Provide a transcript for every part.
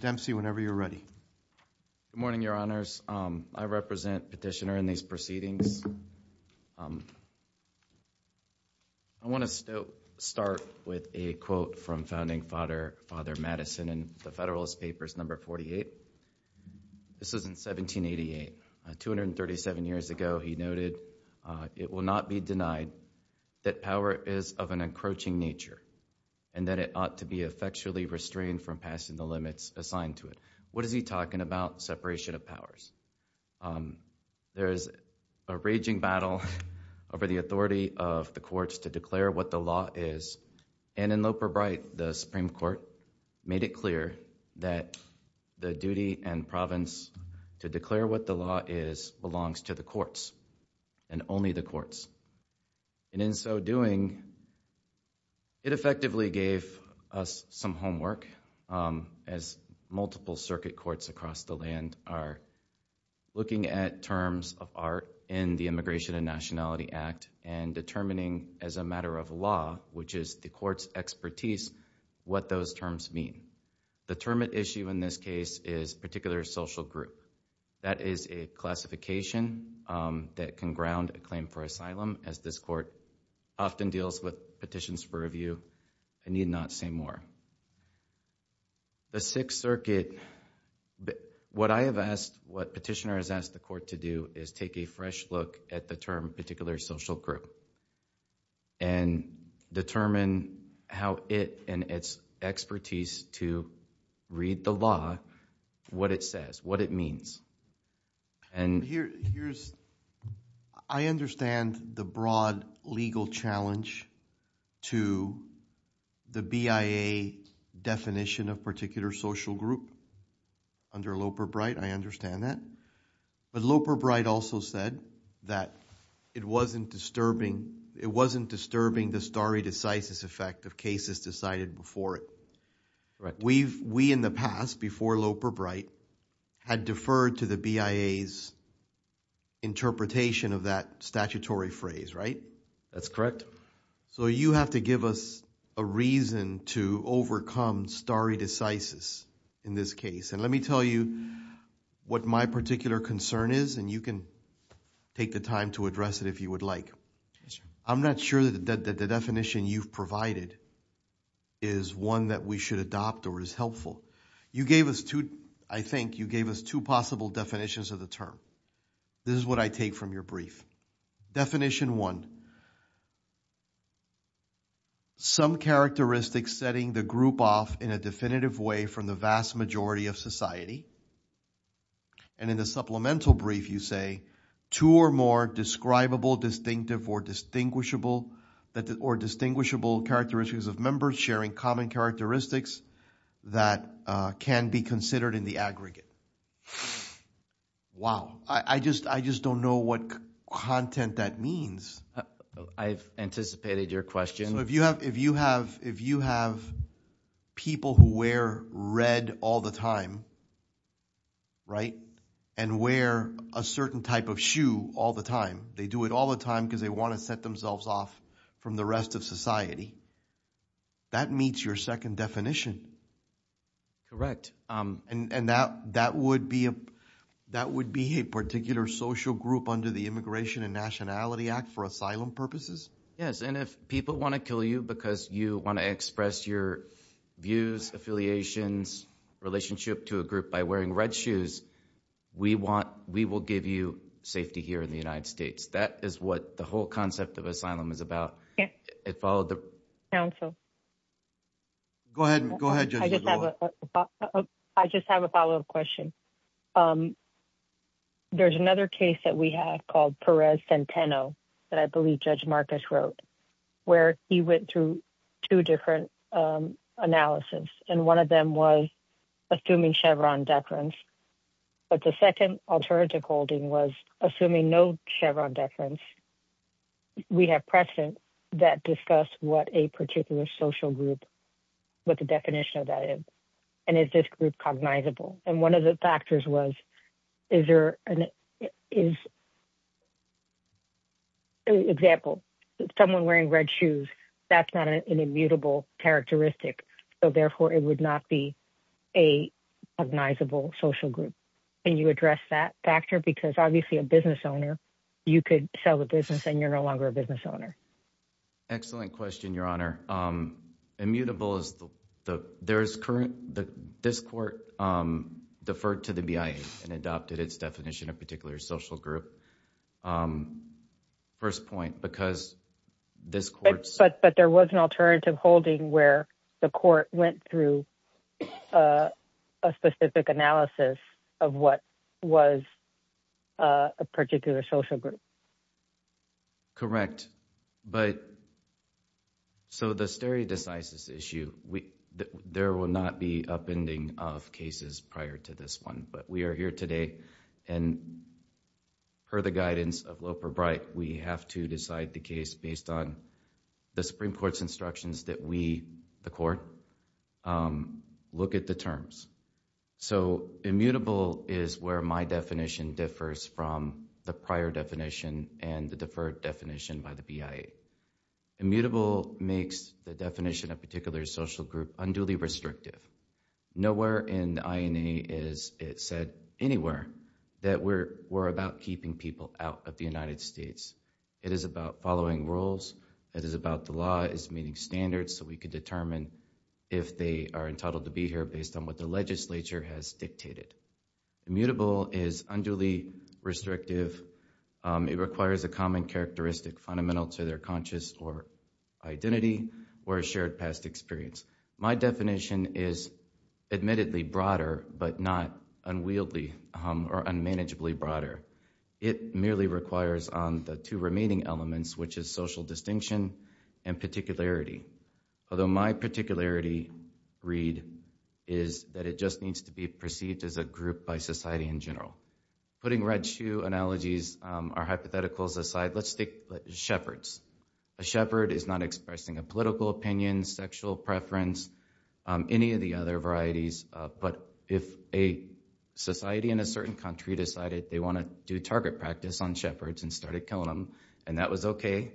Dempsey, whenever you're ready. Good morning, Your Honors. I represent Petitioner in these meetings. I want to start with a quote from Founding Father Madison in the Federalist Papers No. 48. This is in 1788. 237 years ago he noted, it will not be denied that power is of an encroaching nature and that it ought to be effectually restrained from passing the limits assigned to it. What is he talking about? Separation of powers. There is a raging battle over the authority of the courts to declare what the law is. And in Loper Bright, the Supreme Court made it clear that the duty and province to declare what the law is belongs to the courts and only the courts. And in so doing, it effectively gave us some homework as multiple circuit courts across the land are looking at terms of art in the Immigration and Nationality Act and determining as a matter of law, which is the court's expertise, what those terms mean. The term at issue in this case is particular social group. That is a classification that can ground a claim for asylum as this court often deals with petitions for review. I need not say more. The Sixth Circuit, what I have asked, what Petitioner has asked the court to do is take a fresh look at the term particular social group and determine how it and its expertise to read the law, what it says, what it means. And here's, I understand the broad legal challenge to the BIA definition of particular social group under Loper Bright. I understand that. But Loper Bright also said that it wasn't disturbing, it wasn't disturbing the stare decisis effect of cases decided before it, right? We've, we in the past before Loper Bright had deferred to the BIA's interpretation of that statutory phrase, right? That's correct. So you have to give us a reason to overcome stare decisis in this case. And let me tell you what my particular concern is. And you can take the to address it if you would like. I'm not sure that the definition you've provided is one that we should adopt or is helpful. You gave us two, I think you gave us two possible definitions of the term. This is what I take from your brief. Definition one, some characteristics setting the group off in a definitive way from the vast majority of society. And in the supplemental brief you say, two or more describable distinctive or distinguishable, or distinguishable characteristics of members sharing common characteristics that can be considered in the aggregate. Wow. I just, I just don't know what content that means. I've anticipated your question. If you have, if you have, if you have people who wear red all the time, right? And wear a certain type of shoe all the time. They do it all the time because they want to set themselves off from the rest of society. That meets your second definition. Correct. And, and that, that would be a, that would be a particular social group under the Immigration and Nationality Act for asylum purposes? Yes. And if people want to kill you because you want to express your views, affiliations, relationship to a group by wearing red shoes, we want, we will give you safety here in the United States. That is what the whole concept of asylum is about. Yeah. It followed the counsel. Go ahead and go ahead. I just have a follow up question. Um, there's another case that we have called Perez Centeno that I believe Judge Marcus wrote, where he went through two different, um, analysis. And one of them was assuming Chevron deference. But the second alternative holding was assuming no Chevron deference. We have precedent that discuss what a particular social group, what the definition of that is. And is this group cognizable? And one of the factors was, is there an, is, example, someone wearing red shoes, that's not an immutable characteristic. So therefore, it would not be a cognizable social group. Can you address that factor? Because obviously a business owner, you could sell the business and you're no longer a business owner. Excellent question, Your Honor. Um, immutable is the, there's current, this court, um, deferred to the BIA and adopted its definition of particular social group. Um, first point, because this court. But there was an alternative holding where the court went through, uh, a specific analysis of what was, uh, a particular social group. Correct. But, so the stare decisis issue, we, there will not be upending of cases prior to this one. But we are here today and per the guidance of Loper Bright, we have to decide the case based on the Supreme Court's instructions that we, the court, um, look at the terms. So immutable is where my definition differs from the prior definition and the deferred definition by the BIA. Immutable makes the definition of particular social group unduly restrictive. Nowhere in the INA is it said anywhere that we're, we're about keeping people out of the United States. It is about following rules. It is about the law is meeting standards so we could determine if they are entitled to be here based on what the legislature has dictated. Immutable is unduly restrictive. Um, it requires a common characteristic fundamental to their conscious or identity or a shared past experience. My definition is admittedly broader but not unwieldy, um, or unmanageably broader. It merely requires on the two remaining elements, which is social distinction and particularity. Although my particularity read is that it just needs to be perceived as a group by society in general. Putting red shoe analogies, um, our hypotheticals aside, let's take shepherds. A shepherd is not expressing a political opinion, sexual preference, um, any of the other varieties, uh, but if a society in a certain country decided they want to do target practice on shepherds and started killing them and that was okay,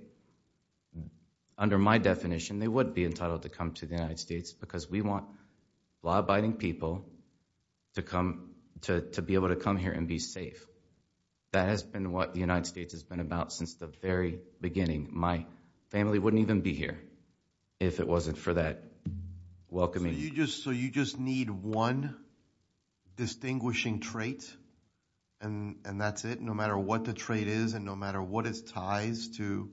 under my definition they would be entitled to come to the United States because we want law-abiding people to come, to, to be able to come here and be safe. That has been what the United States has been about since the very beginning. My family wouldn't even be here if it wasn't for that welcoming. You just, so you just need one distinguishing trait and, and that's it no matter what the trait is and no matter what its ties to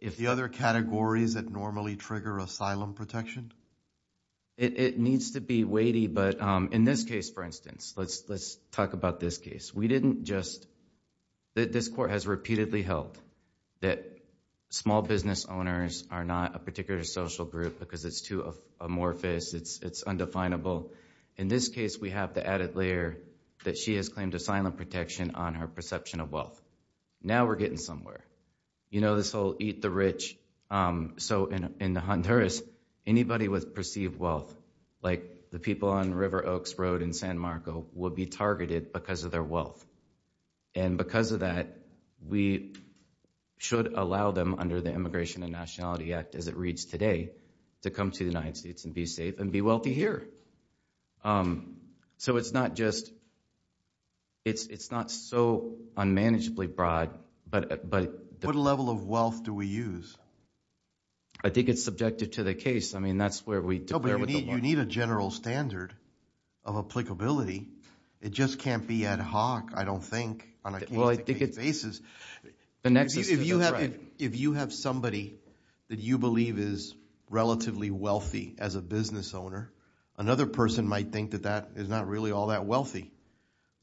if the other categories that normally trigger asylum protection? It, it needs to be weighty but, um, in this case for instance, let's, let's talk about this case. We didn't just, this court has repeatedly held that small business owners are not a particular social group because it's too amorphous, it's, it's undefinable. In this case we have the added layer that she has claimed asylum protection on her perception of wealth. Now we're getting somewhere. You know this whole eat the rich, um, so in, in the Honduras anybody with perceived wealth like the people on River Oaks Road in San Marco will be targeted because of their wealth and because of that we should allow them under the Immigration and Nationality Act as it reads today to come to the United States and be safe and be wealthy here. Um, so it's not just, it's, it's not so unmanageably broad but, but... What level of wealth do we use? I think it's subjective to the case. I mean that's where we... No, but you need, you need a general standard of applicability. It just can't be ad hoc, I don't think, on a case-by-case basis. The nexus... If you have somebody that you believe is relatively wealthy as a business owner, another person might think that that is not really all that wealthy.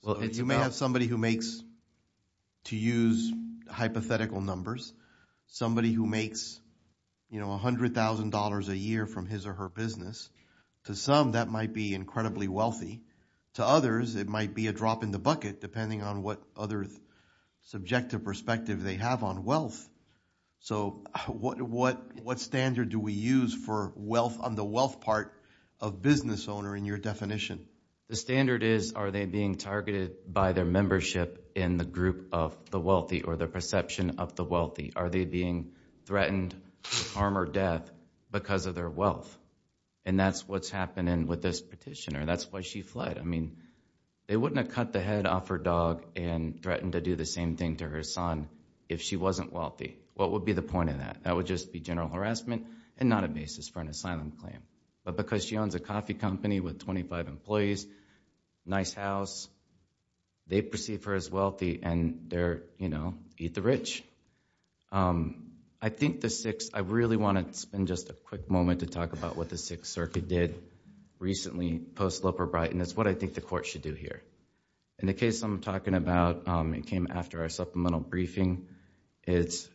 You may have somebody who makes, to use hypothetical numbers, somebody who makes, you know, a hundred thousand dollars a year from his or her business, to some that might be incredibly wealthy, to others it might be a drop in the bucket depending on what other subjective perspective they have on wealth. So what, what, what standard do we use for wealth on the wealth part of business owner in your definition? The standard is, are they being targeted by their membership in the group of the wealthy or their perception of the wealthy? Are they being threatened harm or death because of their wealth? And that's what's happening with this petitioner. That's why she fled. They wouldn't have cut the head off her dog and threatened to do the same thing to her son if she wasn't wealthy. What would be the point of that? That would just be general harassment and not a basis for an asylum claim. But because she owns a coffee company with 25 employees, nice house, they perceive her as wealthy and they're, you know, eat the rich. I think the six... I really want to spend just a quick moment to talk about what the Sixth Circuit did recently post-Loper-Brighton. That's what I think the court should do here. In the case I'm talking about, it came after our supplemental briefing. It's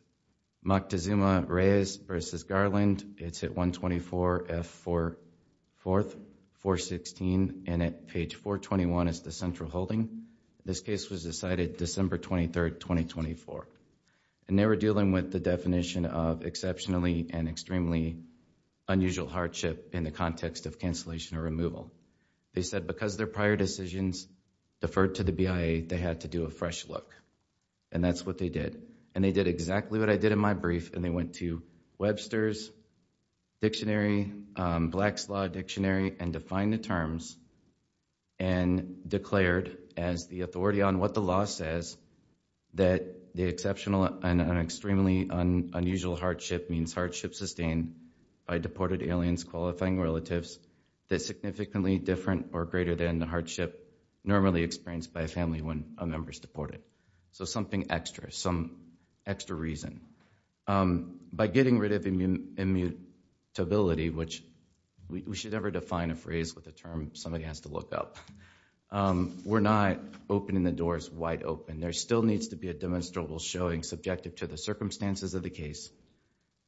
Moctezuma-Reyes v. Garland. It's at 124F4-416 and at page 421 is the central holding. This case was decided December 23rd, 2024. And they were dealing with the definition of exceptionally and extremely unusual hardship in the context of cancellation or removal. They said because their prior decisions deferred to the BIA, they had to do a fresh look. And that's what they did. And they did exactly what I did in my brief. And they went to Webster's Dictionary, Black's Law Dictionary and defined the terms and declared as the authority on what the law says that the exceptional and extremely unusual hardship means hardship sustained by deported aliens qualifying relatives that's significantly different or greater than the hardship normally experienced by a family when a member is deported. So something extra, some extra reason. By getting rid of immutability, which we should never define a phrase with a term somebody has to look up, we're not opening the doors wide open. There still needs to be a demonstrable showing subjective to the circumstances of the case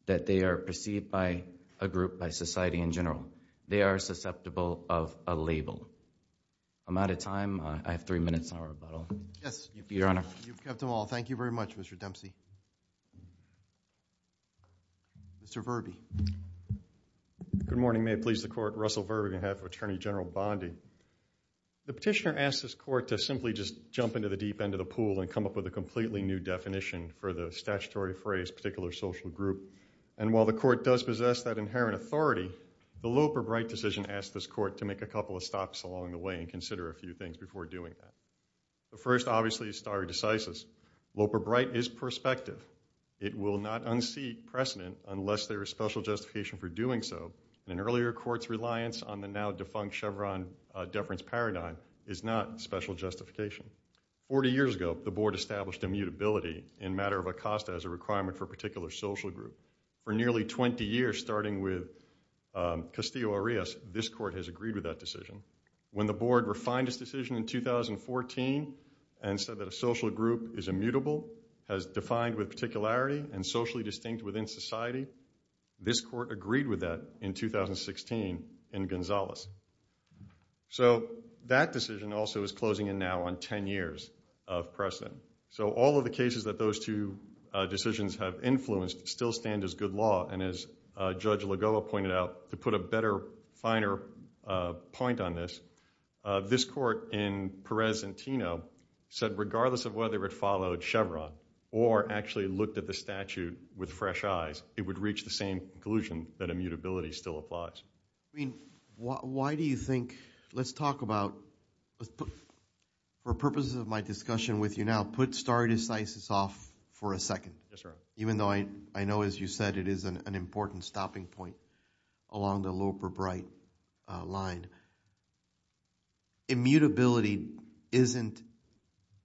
that they are perceived by a group, by society in general. They are susceptible of a label. I'm out of time. I have three minutes on rebuttal. Yes, Your Honor. You've kept them all. Thank you very much, Mr. Dempsey. Mr. Verby. Good morning. May it please the Court. Russell Verby, on behalf of Attorney General Bondi. The petitioner asked this court to simply just jump into the deep end of the pool and come up with a completely new definition for the statutory phrase particular social group. And while the court does possess that inherent authority, the Loper-Bright decision asked this court to make a couple of stops along the way and consider a few things before doing that. The first, obviously, is stare decisis. Loper-Bright is perspective. It will not unseat precedent unless there is special justification for doing so. An earlier court's reliance on the now-defunct Chevron deference paradigm is not special justification. Forty years ago, the board established immutability in matter of a cost as a requirement for a particular social group. For nearly 20 years, starting with Castillo-Arias, this court has agreed with that decision. When the board refined its decision in 2014 and said that a social group is immutable, has defined with particularity, and socially distinct within society, this court agreed with that in 2016 in Gonzalez. So that decision also is closing in now on 10 years of precedent. So all of the cases that those two decisions have influenced still stand as good law. And as Judge Lagoa pointed out, to put a better, finer point on this, this court in Perez and Tino said regardless of whether it followed Chevron or actually looked at the statute with fresh eyes, it would reach the same conclusion that immutability still applies. I mean, why do you think, let's talk about, for purposes of my discussion with you now, put stare decisis off for a second. Yes, sir. Even though I know, as you said, it is an important stopping point along the loop or bright line. Immutability isn't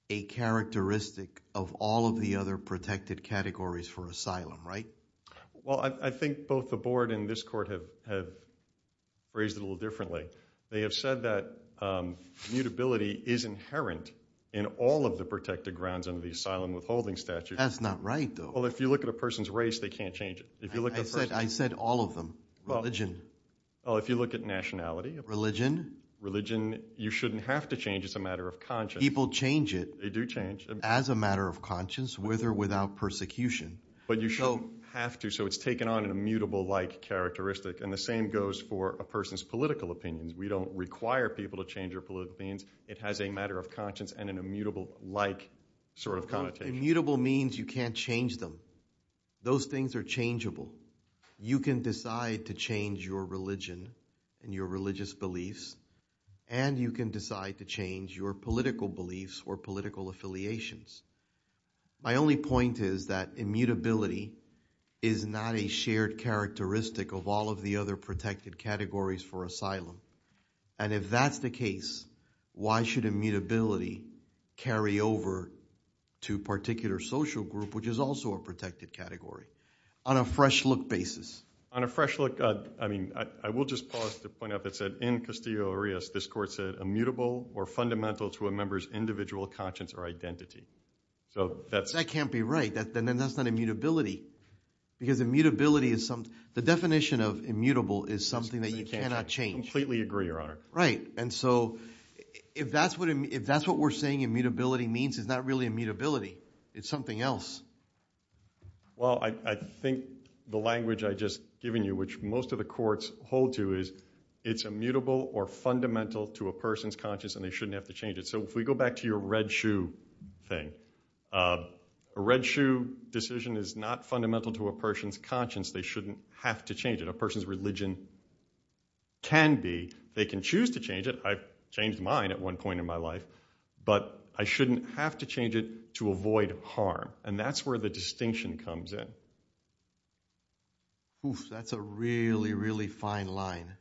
a characteristic of all of the other protected categories for asylum, right? Well, I think both the board and this court have raised it a little differently. They have said that immutability is inherent in all of the protected grounds under the asylum withholding statute. That's not right, though. Well, if you look at a person's race, they can't change it. If you look at a person's race. I said all of them. Religion. Well, if you look at nationality. Religion. Religion, you shouldn't have to change. It's a matter of conscience. People change it. They do change. As a matter of conscience, with or without persecution. But you shouldn't have to. So it's taken on an immutable-like characteristic. And the same goes for a person's political opinions. We don't require people to change their political opinions. It has a matter of conscience and an immutable-like sort of connotation. Immutable means you can't change them. Those things are changeable. You can decide to change your religion and your religious beliefs. And you can decide to change your political beliefs or political affiliations. My only point is that immutability is not a shared characteristic of all of the other protected categories for asylum. And if that's the case, why should immutability carry over to a particular social group, which is also a protected category? On a fresh look basis. On a fresh look, I mean, I will just pause to point out that said in Castillo-Arias, this court said immutable or fundamental to a member's individual conscience or identity. So that's... That can't be right. Then that's not immutability. Because immutability is something... The definition of immutable is something that you cannot change. I completely agree, Your Honor. Right. And so if that's what we're saying immutability means, it's not really immutability. It's something else. Well, I think the language I just given you, which most of the courts hold to, is it's immutable or fundamental to a person's conscience and they shouldn't have to change it. So if we go back to your red shoe thing, a red shoe decision is not fundamental to a person's conscience. They shouldn't have to change it. A person's religion can be. They can choose to change it. I've changed mine at one point in my life. But I shouldn't have to change it to avoid harm. And that's where the distinction comes in. That's a really, really fine line.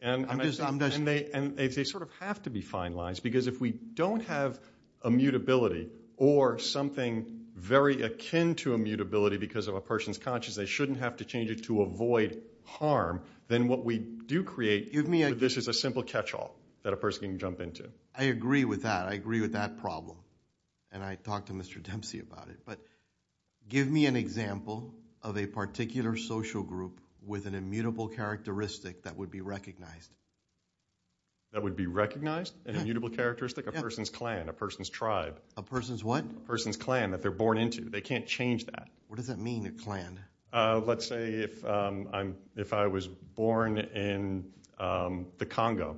And they sort of have to be fine lines because if we don't have immutability or something very akin to immutability because of a person's conscience, they shouldn't have to change it to avoid harm. Then what we do create, this is a simple catch-all that a person can jump into. I agree with that. I agree with that problem. And I talked to Mr. Dempsey about it. But give me an example of a particular social group with an immutable characteristic that would be recognized. That would be recognized? An immutable characteristic? A person's clan, a person's tribe. A person's what? A person's clan that they're born into. They can't change that. What does that mean, a clan? Let's say if I was born in the Congo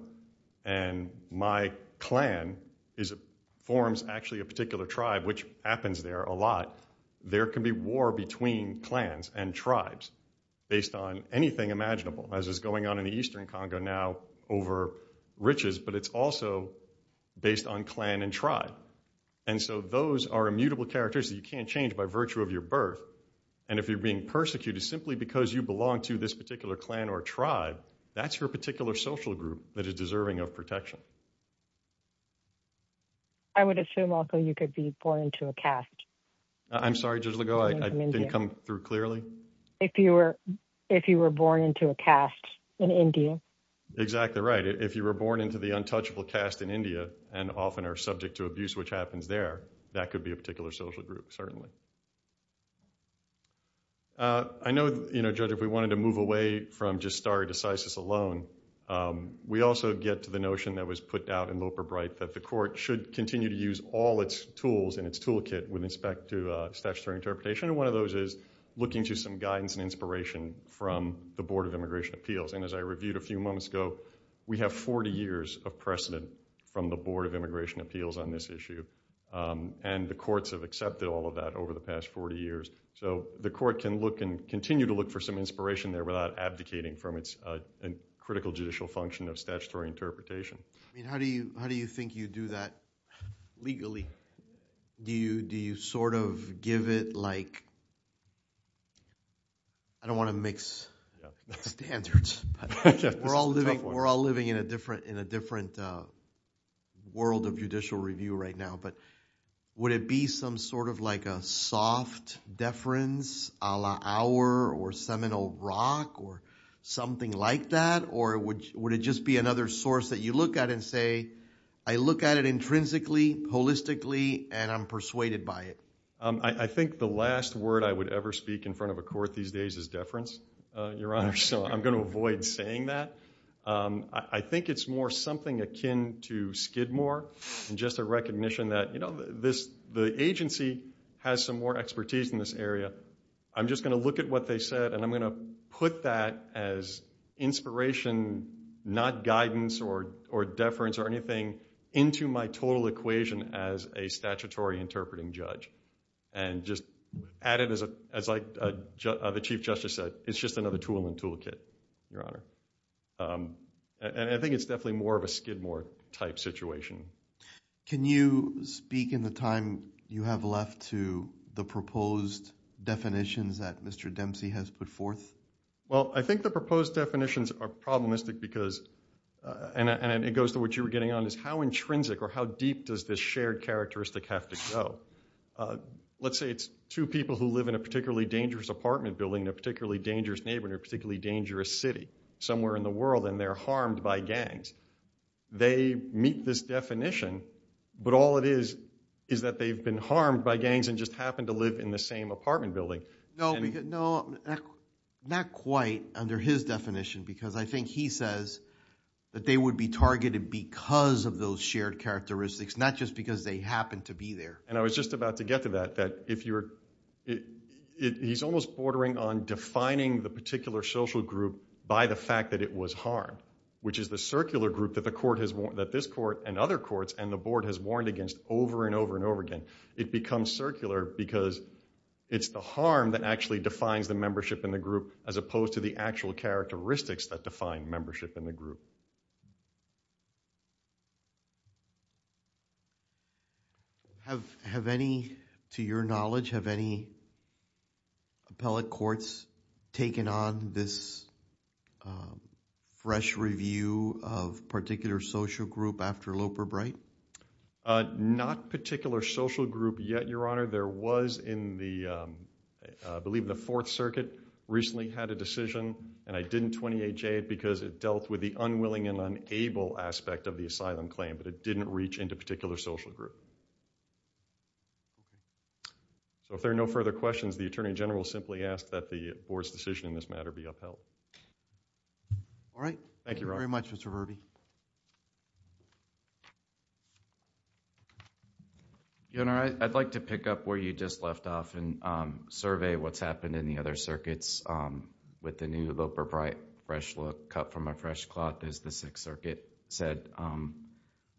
and my clan forms actually a particular tribe, which happens there a lot, there can be war between clans and tribes based on anything imaginable, as is going on in the Eastern Congo now over riches. But it's also based on clan and tribe. And so those are immutable characteristics that you can't change by virtue of your birth. And if you're being persecuted simply because you belong to this particular clan or tribe, that's your particular social group that is deserving of protection. I would assume, also, you could be born into a caste. I'm sorry, Judge Legault, I didn't come through clearly. If you were born into a caste in India. Exactly right. If you were born into the untouchable caste in India and often are subject to abuse, which happens there, that could be a particular social group, certainly. I know, Judge, if we wanted to move away from just stare decisis alone, we also get to the notion that was put out in Loper-Bright that the court should continue to use all its tools in its toolkit with respect to statutory interpretation. And one of those is looking to some guidance and inspiration from the Board of Immigration Appeals. And as I reviewed a few moments ago, we have 40 years of precedent from the Board of Immigration Appeals on this issue. And the courts have accepted all of that over the past 40 years. So the court can look and continue to look for some inspiration there without abdicating from its critical judicial function of statutory interpretation. I mean, how do you think you do that legally? Do you sort of give it like, I don't want to mix standards. We're all living in a different world of judicial review right now. Would it be some sort of like a soft deference a la our, or seminal rock, or something like that? Or would it just be another source that you look at and say, I look at it intrinsically, holistically, and I'm persuaded by it? I think the last word I would ever speak in front of a court these days is deference, Your Honor. So I'm going to avoid saying that. I think it's more something akin to Skidmore, and just a recognition that the agency has some more expertise in this area. I'm just going to look at what they said, and I'm going to put that as inspiration, not guidance, or deference, or anything into my total equation as a statutory interpreting judge. And just add it, as the Chief Justice said, it's just another tool in the toolkit, Your Honor. And I think it's definitely more of a Skidmore type situation. Can you speak in the time you have left to the proposed definitions that Mr. Dempsey has put forth? Well, I think the proposed definitions are problematic because, and it goes to what you were getting on, is how intrinsic or how deep does this shared characteristic have to go? Let's say it's two people who live in a particularly dangerous apartment building in a particularly dangerous city somewhere in the world, and they're harmed by gangs. They meet this definition, but all it is is that they've been harmed by gangs and just happen to live in the same apartment building. No, not quite under his definition, because I think he says that they would be targeted because of those shared characteristics, not just because they happen to be there. And I was just about to get to that, that if you're, he's almost bordering on defining the particular social group by the fact that it was harmed, which is the circular group that the court has, that this court and other courts and the board has warned against over and over and over again. It becomes circular because it's the harm that actually defines the membership in the group as opposed to the actual characteristics that define membership in the group. Have, have any, to your knowledge, have any appellate courts taken on this fresh review of particular social group after Loper Bright? Not particular social group yet, Your Honor. There was in the, I believe in the Fourth Circuit, recently had a decision, and I didn't because it dealt with the unwilling and unable aspect of the asylum claim, but it didn't reach into particular social group. So if there are no further questions, the Attorney General will simply ask that the board's decision in this matter be upheld. All right. Thank you very much, Mr. Verby. Your Honor, I'd like to pick up where you just left off and survey what's happened in the other circuits with the new Loper Bright fresh look, cut from a fresh cloth, as the Sixth Circuit said.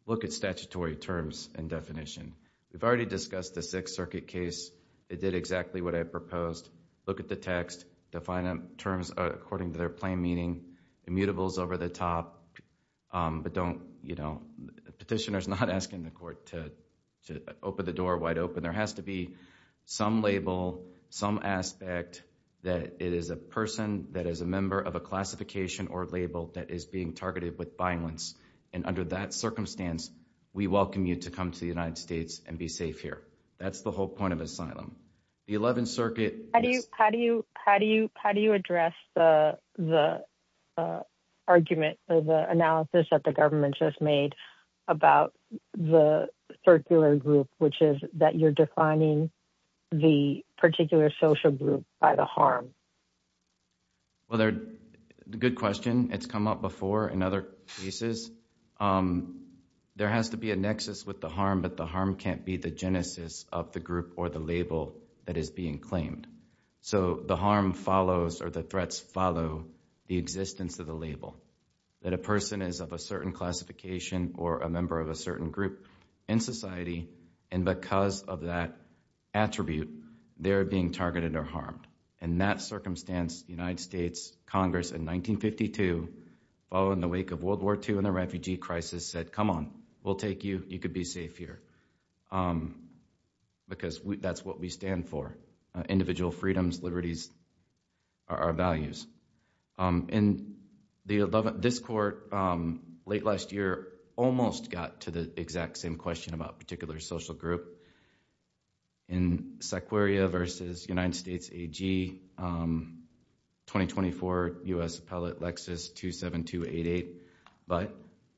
Look at statutory terms and definition. We've already discussed the Sixth Circuit case. It did exactly what I proposed. Look at the text. Define terms according to their plain meaning. Immutables over the top. But don't, you know, petitioners not asking the court to open the door wide open. There has to be some label, some aspect that it is a person that is a member of a classification or label that is being targeted with violence. And under that circumstance, we welcome you to come to the United States and be safe here. That's the whole point of asylum. The Eleventh Circuit. How do you, how do you, how do you, how do you address the argument or the analysis that the government just made about the circular group, which is that you're defining the particular social group by the harm? Well, they're, good question. It's come up before in other cases. There has to be a nexus with the harm, but the harm can't be the genesis of the group or the label that is being claimed. So the harm follows or the threats follow the existence of the label. That a person is of a certain classification or a member of a certain group in society. And because of that attribute, they're being targeted or harmed. In that circumstance, the United States Congress in 1952, following the wake of World War II and the refugee crisis said, come on, we'll take you. You could be safe here. Because that's what we stand for. Individual freedoms, liberties are our values. In the 11th, this court, late last year, almost got to the exact same question about particular social group. In Sequoia versus United States AG, 2024 U.S. Appellate Lexus 27288, but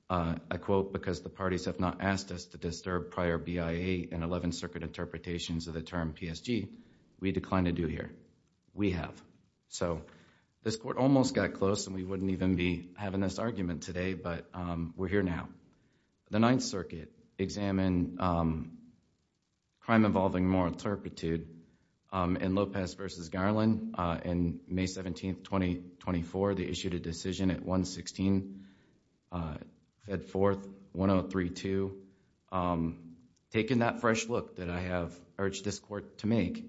I quote, because the parties have not asked us to disturb prior BIA and 11th Circuit interpretations of the term PSG, we decline to do here. We have. So this court almost got close and we wouldn't even be having this argument today. But we're here now. The Ninth Circuit examined crime involving moral turpitude in Lopez versus Garland in May 17, 2024. They issued a decision at 116, fed forth 1032. Taking that fresh look that I have urged this court to make.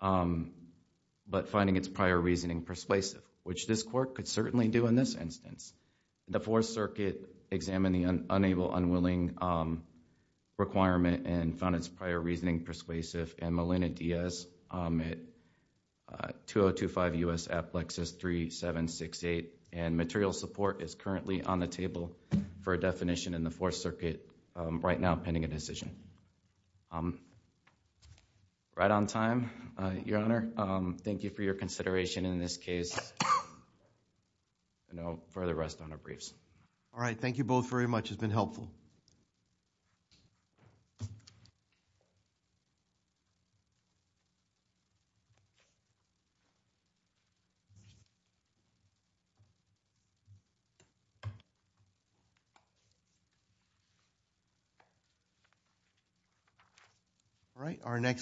But finding its prior reasoning persuasive, which this court could certainly do in this instance. The Fourth Circuit examined the unable unwilling requirement and found its prior reasoning persuasive in Molina Diaz at 2025 U.S. Appellate Lexus 3768. And material support is currently on the table for a definition in the Fourth Circuit right now pending a decision. I'm right on time, Your Honor. Thank you for your consideration in this case. No further rest on our briefs. All right. Thank you both very much. It's been helpful. All right. Our next.